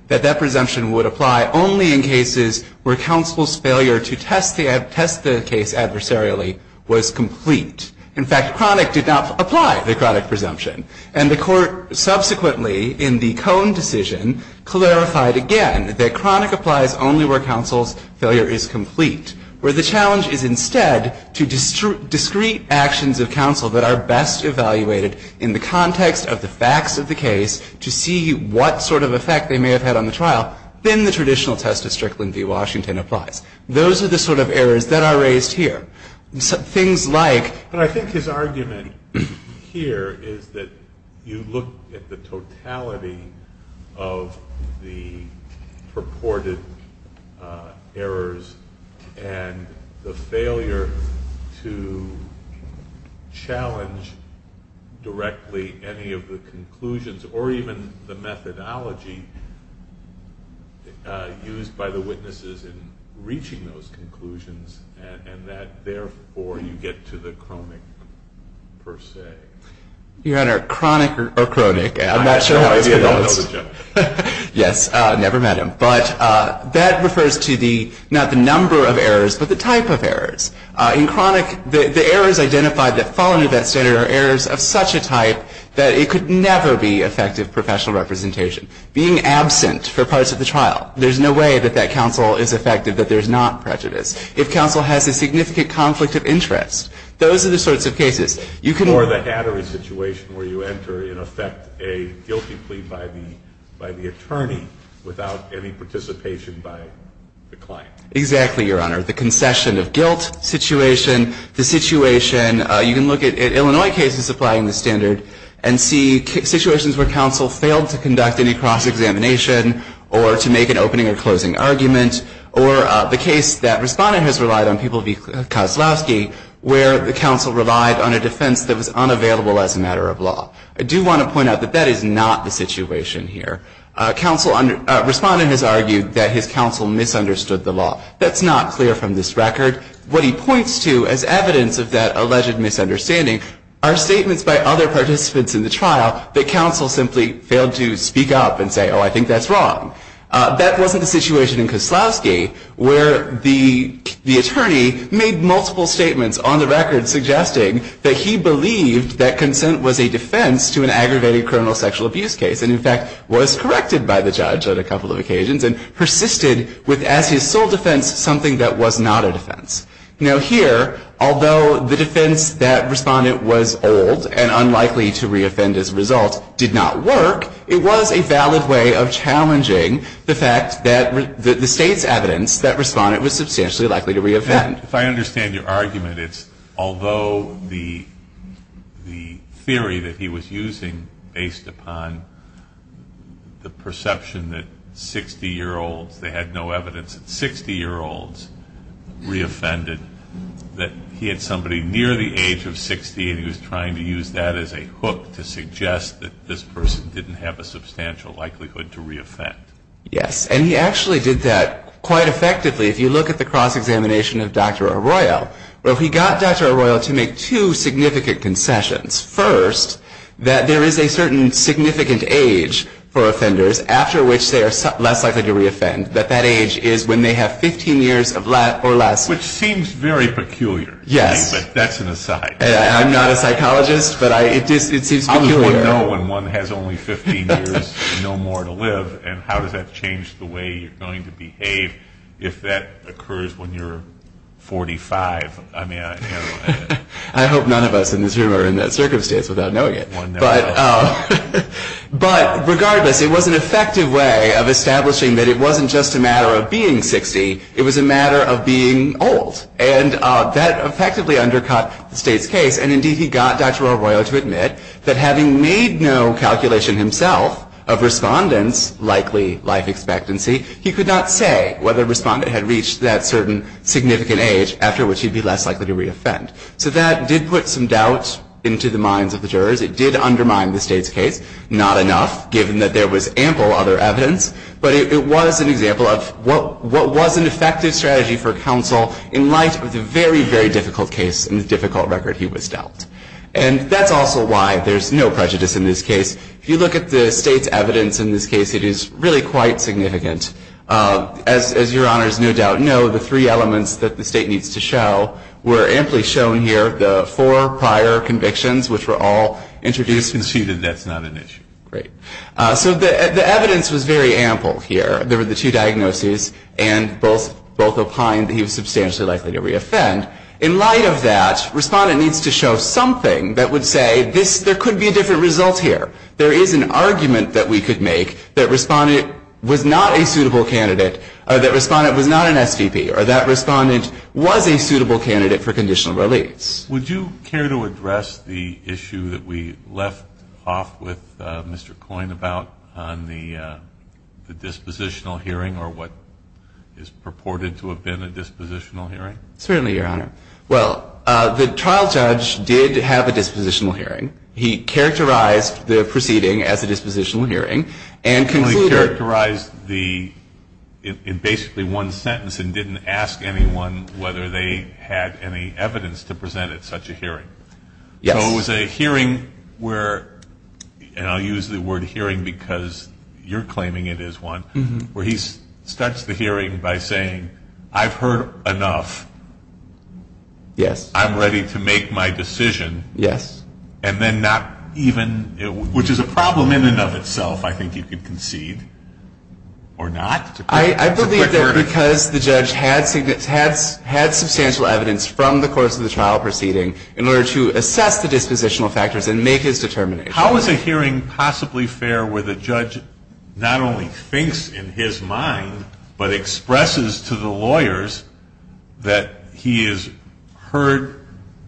that presumption would apply only in cases where counsel's failure to test the case adversarially was complete. In fact, Kronick did not apply the Kronick presumption. And the Court subsequently, in the Cone decision, clarified again that Kronick applies only where counsel's failure is complete, where the challenge is instead to discrete actions of counsel that are best evaluated in the context of the facts of the case to see what sort of effect they may have had on the trial. Then the traditional test of Strickland v. Washington applies. Those are the sort of errors that are raised here. Things like — But I think his argument here is that you look at the totality of the purported errors and the failure to challenge directly any of the conclusions or even the methodology used by the witnesses in reaching those conclusions and that, therefore, you get to the Kronick per se. Your Honor, Kronick or Kronick, I'm not sure how it's pronounced. I have no idea. Don't know the joke. Yes, never met him. But that refers to the — not the number of errors, but the type of errors. In Kronick, the errors identified that fall under that standard are errors of such a type that it could never be effective professional representation. Being absent for parts of the trial, there's no way that that counsel is effective, that there's not prejudice. If counsel has a significant conflict of interest, those are the sorts of cases you can — You can look at Illinois cases applying the standard and see situations where counsel failed to conduct any cross-examination or to make an opening or closing argument or the case that Respondent has relied on, People v. Kozlowski, where the counsel relied on a defense that was unavailable for the defendant to defend. And in Illinois, that's the case. I do want to point out that that is not the situation here. Counsel — Respondent has argued that his counsel misunderstood the law. That's not clear from this record. What he points to as evidence of that alleged misunderstanding are statements by other participants in the trial that counsel simply failed to speak up and say, oh, I think that's wrong. That wasn't the situation in Kozlowski, where the attorney made multiple statements on the record suggesting that he believed that consent was a defense to an aggravated criminal sexual abuse case and, in fact, was corrected by the judge on a couple of occasions and persisted with, as his sole defense, something that was not a defense. Now, here, although the defense that Respondent was old and unlikely to re-offend as a result did not work, it was a valid way of challenging the fact that the State's If I understand your argument, it's although the theory that he was using based upon the perception that 60-year-olds, they had no evidence that 60-year-olds re-offended, that he had somebody near the age of 60 and he was trying to use that as a hook to suggest that this person didn't have a substantial likelihood to re-offend. Yes. And he actually did that quite effectively. If you look at the cross-examination of Dr. Arroyo, he got Dr. Arroyo to make two significant concessions. First, that there is a certain significant age for offenders after which they are less likely to re-offend, that that age is when they have 15 years or less. Which seems very peculiar to me, but that's an aside. I'm not a psychologist, but it seems peculiar. How does one know when one has only 15 years and no more to live, and how does that change the way you're going to behave if that occurs when you're 45? I hope none of us in this room are in that circumstance without knowing it. But regardless, it was an effective way of establishing that it wasn't just a matter of being 60, it was a matter of being old. And that effectively undercut the state's case, and indeed he got Dr. Arroyo to admit that having made no calculation himself of Respondent's likely life expectancy, he could not say whether Respondent had reached that certain significant age after which he'd be less likely to re-offend. So that did put some doubt into the minds of the jurors. It did undermine the state's case. Not enough, given that there was ample other evidence, but it was an example of what was an effective strategy for counsel in light of the very, very difficult case and the difficult record he was dealt. And that's also why there's no prejudice in this case. If you look at the state's evidence in this case, it is really quite significant. As your honors no doubt know, the three elements that the state needs to show were amply shown here, the four prior convictions which were all introduced. We've conceded that's not an issue. Great. So the evidence was very ample here. There were the two diagnoses, and both opined that he was substantially likely to re-offend. And in light of that, Respondent needs to show something that would say there could be a different result here. There is an argument that we could make that Respondent was not a suitable candidate or that Respondent was not an SVP or that Respondent was a suitable candidate for conditional release. Would you care to address the issue that we left off with Mr. Coyne about on the dispositional hearing or what is purported to have been a dispositional hearing? Certainly, Your Honor. Well, the trial judge did have a dispositional hearing. He characterized the proceeding as a dispositional hearing and concluded He only characterized the, in basically one sentence, and didn't ask anyone whether they had any evidence to present at such a hearing. Yes. So it was a hearing where, and I'll use the word hearing because you're claiming it is one, where he starts the hearing by saying, I've heard enough. Yes. I'm ready to make my decision. Yes. And then not even, which is a problem in and of itself, I think you could concede, or not. I believe that because the judge had substantial evidence from the course of the trial proceeding in order to assess the dispositional factors and make his determination. How is a hearing possibly fair where the judge not only thinks in his mind, but expresses to the lawyers that he has heard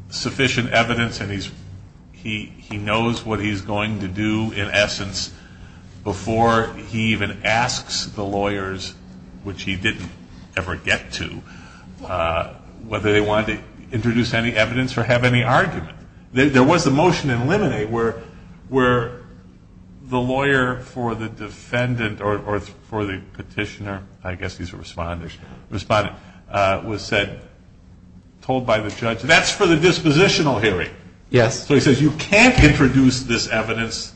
sufficient evidence and he knows what he's going to do in essence before he even asks the lawyers, which he didn't ever get to, whether they wanted to introduce any evidence or have any argument? There was a motion in Liminate where the lawyer for the defendant or for the petitioner, I guess he's a respondent, was said, told by the judge, that's for the dispositional hearing. Yes. So he says, you can't introduce this evidence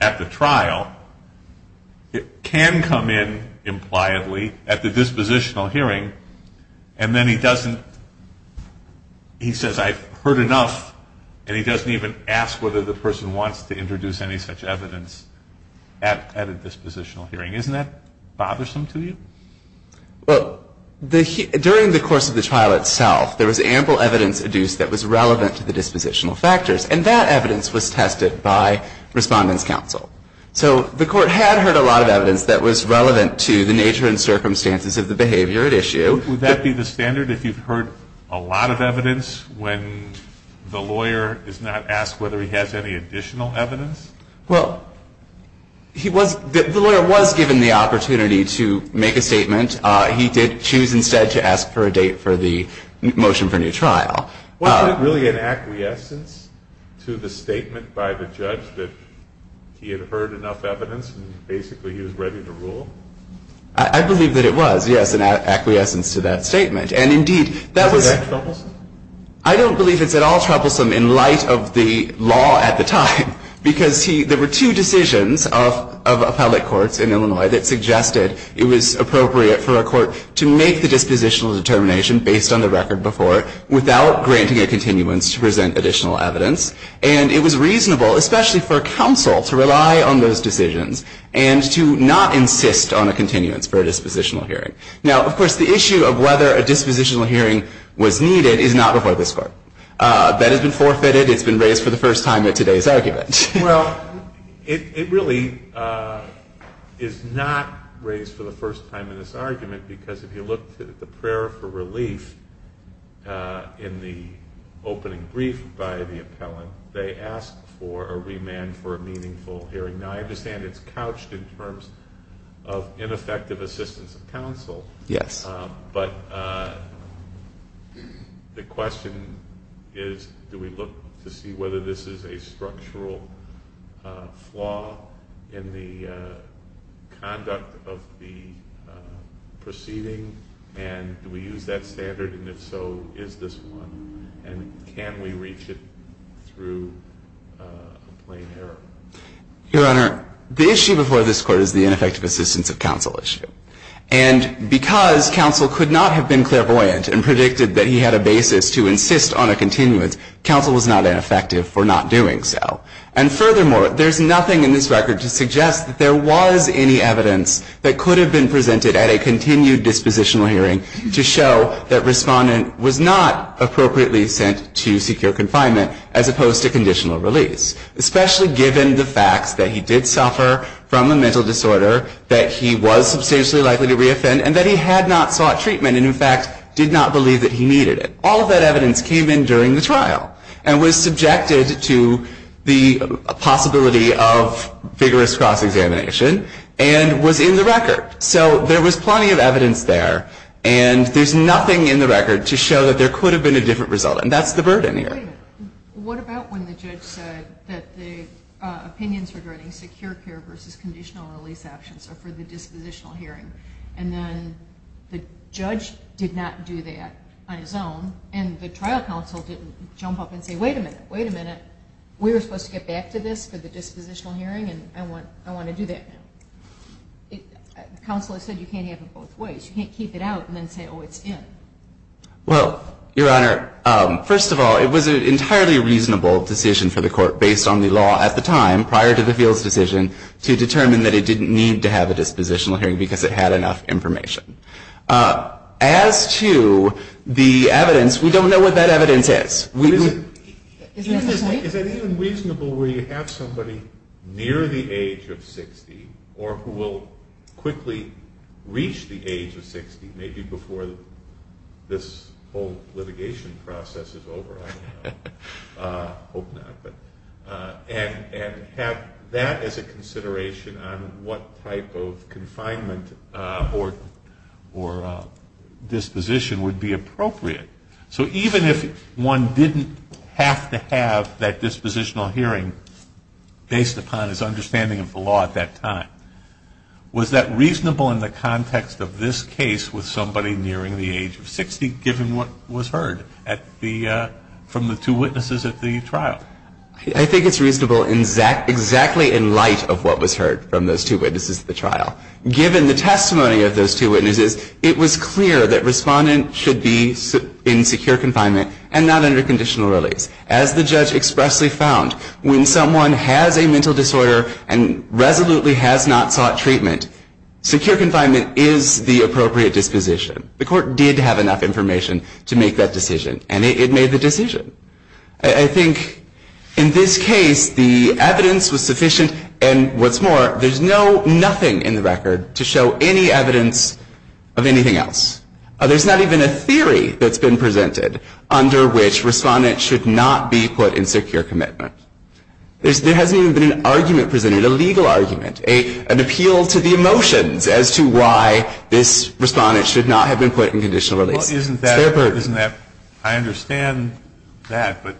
at the trial. It can come in, impliedly, at the dispositional hearing. And then he doesn't, he says, I've heard enough, and he doesn't even ask whether the person wants to introduce any such evidence at a dispositional hearing. Isn't that bothersome to you? Well, during the course of the trial itself, there was ample evidence adduced that was relevant to the dispositional factors, and that evidence was tested by Respondent's Counsel. So the Court had heard a lot of evidence that was relevant to the nature and circumstances of the behavior at issue. Would that be the standard, if you've heard a lot of evidence, when the lawyer is not asked whether he has any additional evidence? Well, he was, the lawyer was given the opportunity to make a statement. He did choose instead to ask for a date for the motion for new trial. Was it really an acquiescence to the statement by the judge that he had heard enough evidence and basically he was ready to rule? I believe that it was, yes, an acquiescence to that statement. And, indeed, that was. Was that troublesome? I don't believe it's at all troublesome in light of the law at the time, because he, there were two decisions of appellate courts in Illinois that suggested it was appropriate for a court to make the dispositional determination based on the record before without granting a continuance to present additional evidence. And it was reasonable, especially for a counsel, to rely on those decisions and to not insist on a continuance for a dispositional hearing. Now, of course, the issue of whether a dispositional hearing was needed is not before this Court. That has been forfeited. It's been raised for the first time at today's argument. Well, it really is not raised for the first time in this argument, because if you look at the prayer for relief in the opening brief by the appellant, they ask for a remand for a meaningful hearing. Now, I understand it's couched in terms of ineffective assistance of counsel. Yes. But the question is, do we look to see whether this is a structural flaw in the conduct of the proceeding, and do we use that standard? And, if so, is this one? And can we reach it through a plain error? Your Honor, the issue before this Court is the ineffective assistance of counsel issue. And because counsel could not have been clairvoyant and predicted that he had a basis to insist on a continuance, counsel was not ineffective for not doing so. And, furthermore, there's nothing in this record to suggest that there was any evidence that could have been presented at a continued dispositional hearing to show that Respondent was not appropriately sent to secure confinement as opposed to conditional release. Especially given the fact that he did suffer from a mental disorder, that he was substantially likely to reoffend, and that he had not sought treatment and, in fact, did not believe that he needed it. All of that evidence came in during the trial and was subjected to the possibility of vigorous cross-examination and was in the record. So there was plenty of evidence there. And there's nothing in the record to show that there could have been a different result. And that's the burden here. Wait a minute. What about when the judge said that the opinions regarding secure care versus conditional release actions are for the dispositional hearing, and then the judge did not do that on his own, and the trial counsel didn't jump up and say, Wait a minute. Wait a minute. We were supposed to get back to this for the dispositional hearing, and I want to do that now. Counsel has said you can't have it both ways. You can't keep it out and then say, Oh, it's in. Well, Your Honor, first of all, it was an entirely reasonable decision for the court, based on the law at the time prior to the Fields decision, to determine that it didn't need to have a dispositional hearing because it had enough information. As to the evidence, we don't know what that evidence is. Isn't that the same? Is it even reasonable where you have somebody near the age of 60 or who will quickly reach the age of 60, maybe before this whole litigation process is over? I don't know. I hope not. And have that as a consideration on what type of confinement or disposition would be appropriate. So even if one didn't have to have that dispositional hearing based upon his condition, is it reasonable in the context of this case with somebody nearing the age of 60, given what was heard from the two witnesses at the trial? I think it's reasonable exactly in light of what was heard from those two witnesses at the trial. Given the testimony of those two witnesses, it was clear that Respondent should be in secure confinement and not under conditional release. As the judge expressly found, when someone has a mental disorder and resolutely has not sought treatment, secure confinement is the appropriate disposition. The court did have enough information to make that decision, and it made the decision. I think in this case, the evidence was sufficient, and what's more, there's nothing in the record to show any evidence of anything else. There's not even a theory that's been presented under which Respondent should not be put in secure confinement. There hasn't even been an argument presented, a legal argument, an appeal to the emotions as to why this Respondent should not have been put in conditional release. It's their burden. I understand that, but,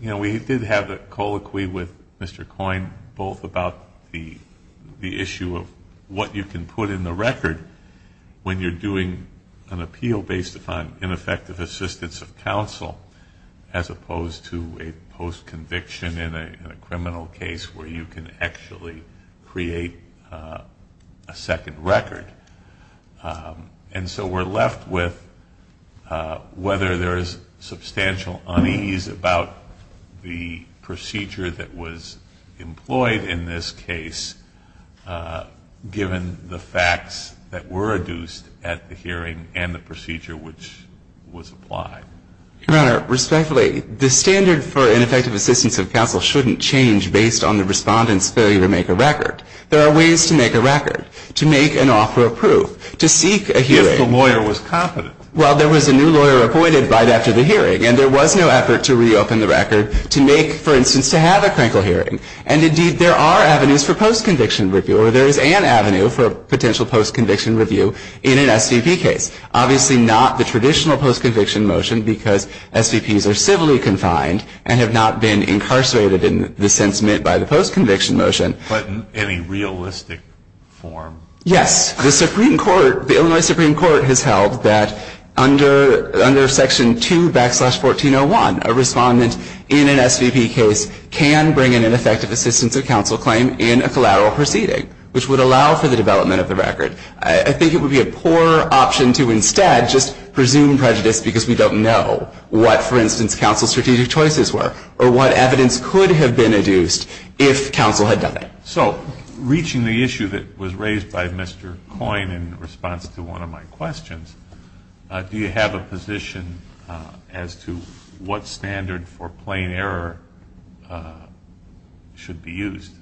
you know, we did have a colloquy with Mr. Coyne both about the issue of what you can put in the record when you're doing an appeal based upon ineffective assistance of counsel as opposed to a post-conviction in a criminal case where you can actually create a second record. And so we're left with whether there is substantial unease about the procedure that was employed in this case given the facts that were adduced at the hearing and the procedure which was applied. Your Honor, respectfully, the standard for ineffective assistance of counsel shouldn't change based on the Respondent's failure to make a record. There are ways to make a record, to make an offer of proof, to seek a hearing. If the lawyer was confident. Well, there was a new lawyer appointed right after the hearing, and there was no effort to reopen the record to make, for instance, to have a crankle hearing. And, indeed, there are avenues for post-conviction review, or there is an avenue for potential post-conviction review in an SVP case. Obviously not the traditional post-conviction motion because SVPs are civilly confined and have not been incarcerated in the sense meant by the post-conviction motion. But in any realistic form? Yes. The Supreme Court, the Illinois Supreme Court has held that under Section 2 backslash 1401, a Respondent in an SVP case can bring in an effective assistance of counsel claim in a collateral proceeding, which would allow for the development of the record. I think it would be a poor option to instead just presume prejudice because we don't know what, for instance, counsel's strategic choices were, or what evidence could have been adduced if counsel had done it. So, reaching the issue that was raised by Mr. Coyne in response to one of my questions, do you have a position as to what standard for plain error should be used?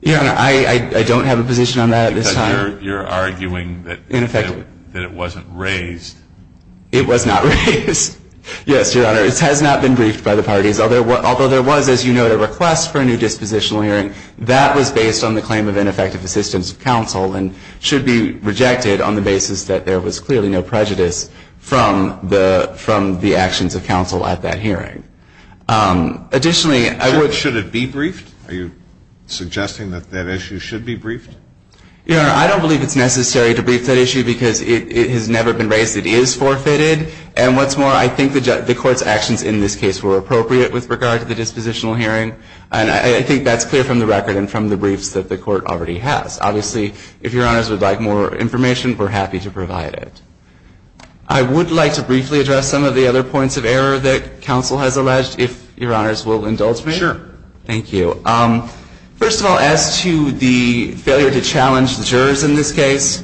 Your Honor, I don't have a position on that at this time. Because you're arguing that it wasn't raised. It was not raised. Yes, Your Honor. It has not been briefed by the parties. Although there was, as you know, a request for a new dispositional hearing, that was based on the claim of ineffective assistance of counsel and should be rejected on the basis that there was clearly no prejudice from the actions of counsel at that hearing. Additionally, I would Should it be briefed? Are you suggesting that that issue should be briefed? Your Honor, I don't believe it's necessary to brief that issue because it has never been raised. It is forfeited. And what's more, I think the Court's actions in this case were appropriate with regard to the dispositional hearing. And I think that's clear from the record and from the briefs that the Court already has. Obviously, if Your Honors would like more information, we're happy to provide it. I would like to briefly address some of the other points of error that counsel has alleged, if Your Honors will indulge me. Sure. Thank you. First of all, as to the failure to challenge the jurors in this case,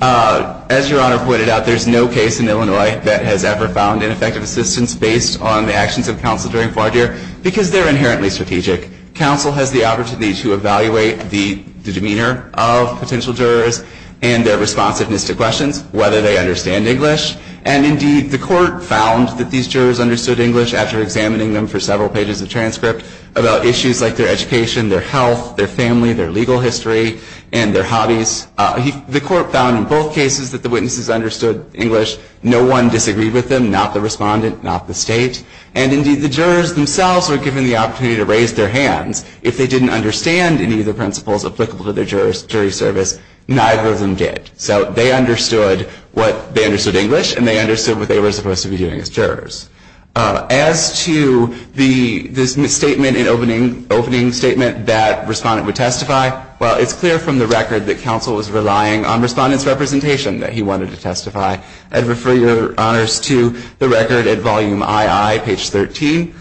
as Your Honor pointed out, there's no case in Illinois that has ever found ineffective assistance based on the actions of counsel during a four-year because they're inherently strategic. Counsel has the opportunity to evaluate the demeanor of potential jurors and their responsiveness to questions, whether they understand English. And indeed, the Court found that these jurors understood English after examining them for several pages of transcript about issues like their education, their health, their family, their legal history, and their hobbies. The Court found in both cases that the witnesses understood English. No one disagreed with them, not the respondent, not the state. And indeed, the jurors themselves were given the opportunity to raise their hands. If they didn't understand any of the principles applicable to their jury service, neither of them did. So they understood English, and they understood what they were supposed to be doing as jurors. As to this misstatement in opening statement that respondent would testify, well, it's clear from the record that counsel was relying on respondent's representation that he wanted to testify. I'd refer Your Honors to the record at volume II, page 13,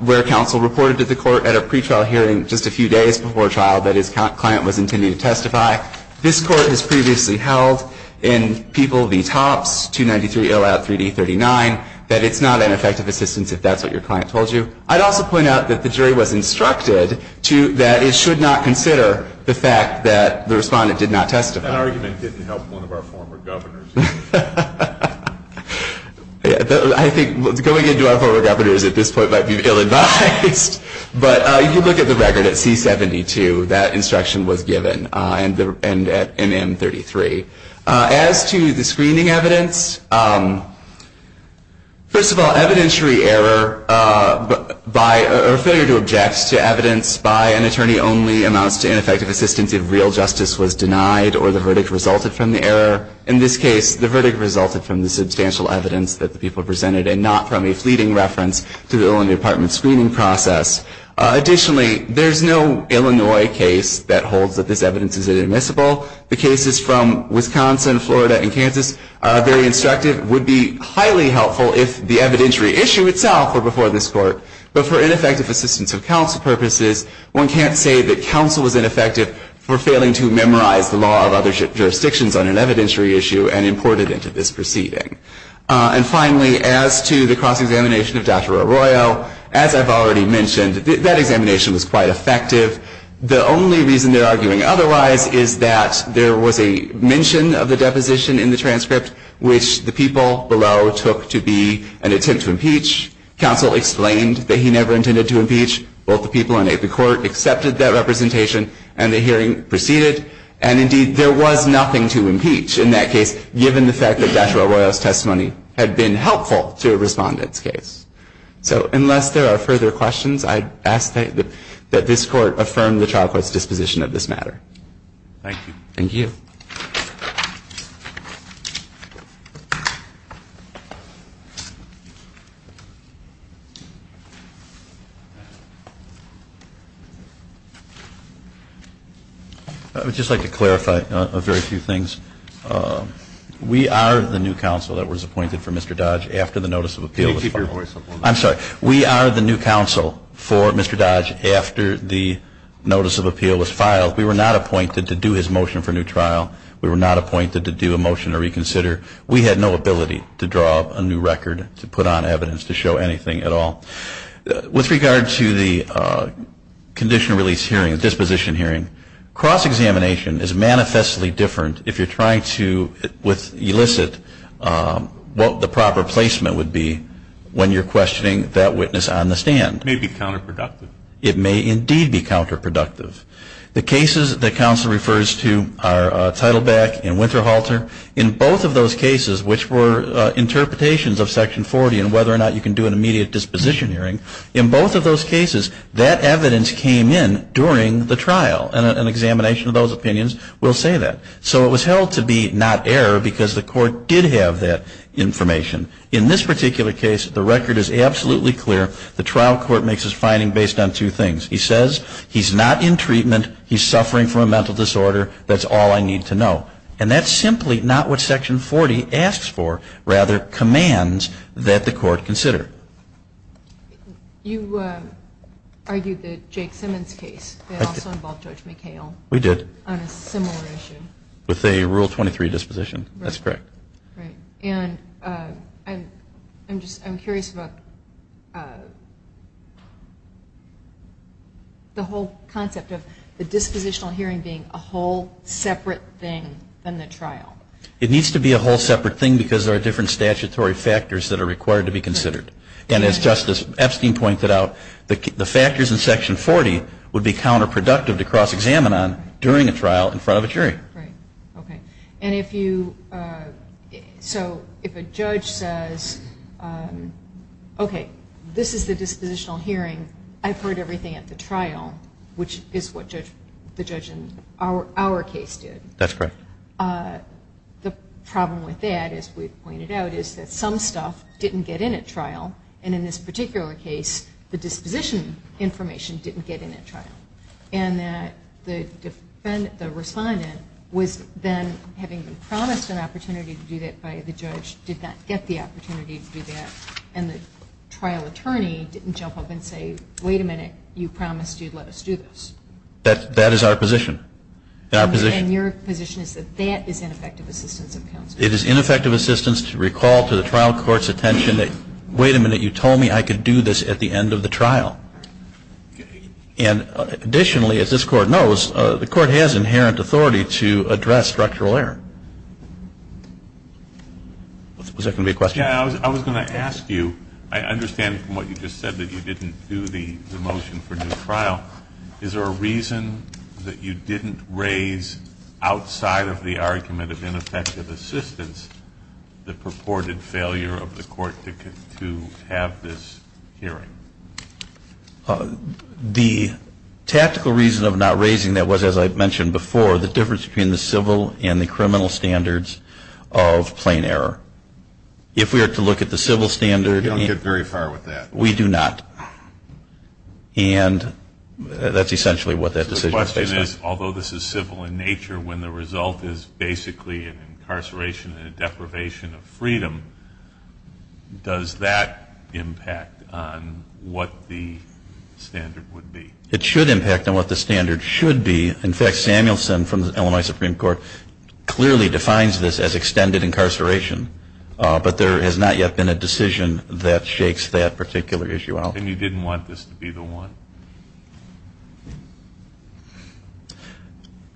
where counsel reported to the Court at a pretrial hearing just a few days before trial that his client was intending to testify. This Court has previously held in people V. Topps, 293L out 3D39, that it's not an effective assistance if that's what your client told you. I'd also point out that the jury was instructed that it should not consider the fact that the respondent did not testify. That argument didn't help one of our former governors. I think going into our former governors at this point might be ill-advised. But if you look at the record at C-72, that instruction was given. And at M-33. As to the screening evidence, first of all, evidentiary error or failure to object to evidence by an attorney only amounts to ineffective assistance if real justice was denied or the verdict resulted from the error. In this case, the verdict resulted from the substantial evidence that the people presented and not from a fleeting reference to the Illinois Department screening process. Additionally, there's no Illinois case that holds that this evidence is inadmissible. The cases from Wisconsin, Florida, and Kansas are very instructive. It would be highly helpful if the evidentiary issue itself were before this Court. But for ineffective assistance of counsel purposes, one can't say that counsel was ineffective for failing to memorize the law of other jurisdictions on an evidentiary issue and import it into this proceeding. And finally, as to the cross-examination of Dr. Arroyo, as I've already mentioned, that examination was quite effective. The only reason they're arguing otherwise is that there was a mention of the deposition in the transcript, which the people below took to be an attempt to impeach. Counsel explained that he never intended to impeach. Both the people in the Court accepted that representation, and the hearing proceeded. And indeed, there was nothing to impeach in that case, given the fact that Dr. Arroyo's testimony had been helpful to a respondent's case. So unless there are further questions, I ask that this Court affirm the trial court's disposition of this matter. Thank you. Thank you. I would just like to clarify a very few things. We are the new counsel that was appointed for Mr. Dodge after the notice of appeal was filed. We were not appointed to do his motion for a new trial. We were not appointed to do a motion to reconsider. We had no ability to draw up a new record, to put on evidence, to show anything at all. With regard to the condition of release hearing, the disposition hearing, cross-examination is manifestly different if you're trying to elicit what the proper placement would be when you're questioning a case. It may be counterproductive. It may indeed be counterproductive. The cases that counsel refers to are Teitelbach and Winterhalter. In both of those cases, which were interpretations of Section 40 and whether or not you can do an immediate disposition hearing, in both of those cases, that evidence came in during the trial. And an examination of those opinions will say that. So it was held to be not error because the Court did have that information. In this particular case, the record is absolutely clear. The trial court makes its finding based on two things. He says he's not in treatment. He's suffering from a mental disorder. That's all I need to know. And that's simply not what Section 40 asks for, rather commands that the Court consider. You argued that Jake Simmons' case also involved Judge McHale. We did. On a similar issue. With a Rule 23 disposition. That's correct. And I'm curious about the whole concept of the dispositional hearing being a whole separate thing than the trial. It needs to be a whole separate thing because there are different statutory factors that are required to be considered. And as Justice Epstein pointed out, the factors in Section 40 would be counterproductive to cross-examine on during a trial in front of a jury. Right. Okay. So if a judge says, okay, this is the dispositional hearing. I've heard everything at the trial, which is what the judge in our case did. That's correct. The problem with that, as we've pointed out, is that some stuff didn't get in at trial. trial. And that the defendant, the respondent, was then having been promised an opportunity to do that by the judge, did not get the opportunity to do that. And the trial attorney didn't jump up and say, wait a minute, you promised you'd let us do this. That is our position. And your position is that that is ineffective assistance of counsel. It is ineffective assistance to recall to the trial court's attention that, And additionally, as this Court knows, the Court has inherent authority to address structural error. Was there going to be a question? Yeah, I was going to ask you, I understand from what you just said that you didn't do the motion for new trial. Is there a reason that you didn't raise outside of the argument of ineffective assistance the purported failure of the Court to have this hearing? The tactical reason of not raising that was, as I mentioned before, the difference between the civil and the criminal standards of plain error. If we were to look at the civil standard, You don't get very far with that. We do not. And that's essentially what that decision is based on. The question is, although this is civil in nature, when the result is basically an incarceration and a deprivation of freedom, does that impact on what the standard would be? It should impact on what the standard should be. In fact, Samuelson from the Illinois Supreme Court clearly defines this as extended incarceration. But there has not yet been a decision that shakes that particular issue out. And you didn't want this to be the one?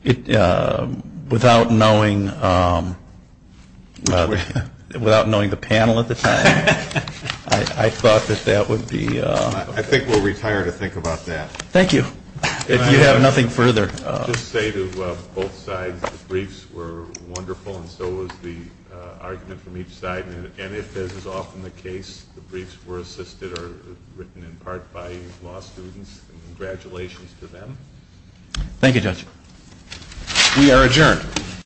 Without knowing the panel at the time, I thought that that would be ‑‑ I think we'll retire to think about that. Thank you. If you have nothing further. I'll just say to both sides, the briefs were wonderful, and so was the argument from each side. And if this is often the case, the briefs were assisted written in part by law students. Congratulations to them. Thank you, Judge. We are adjourned.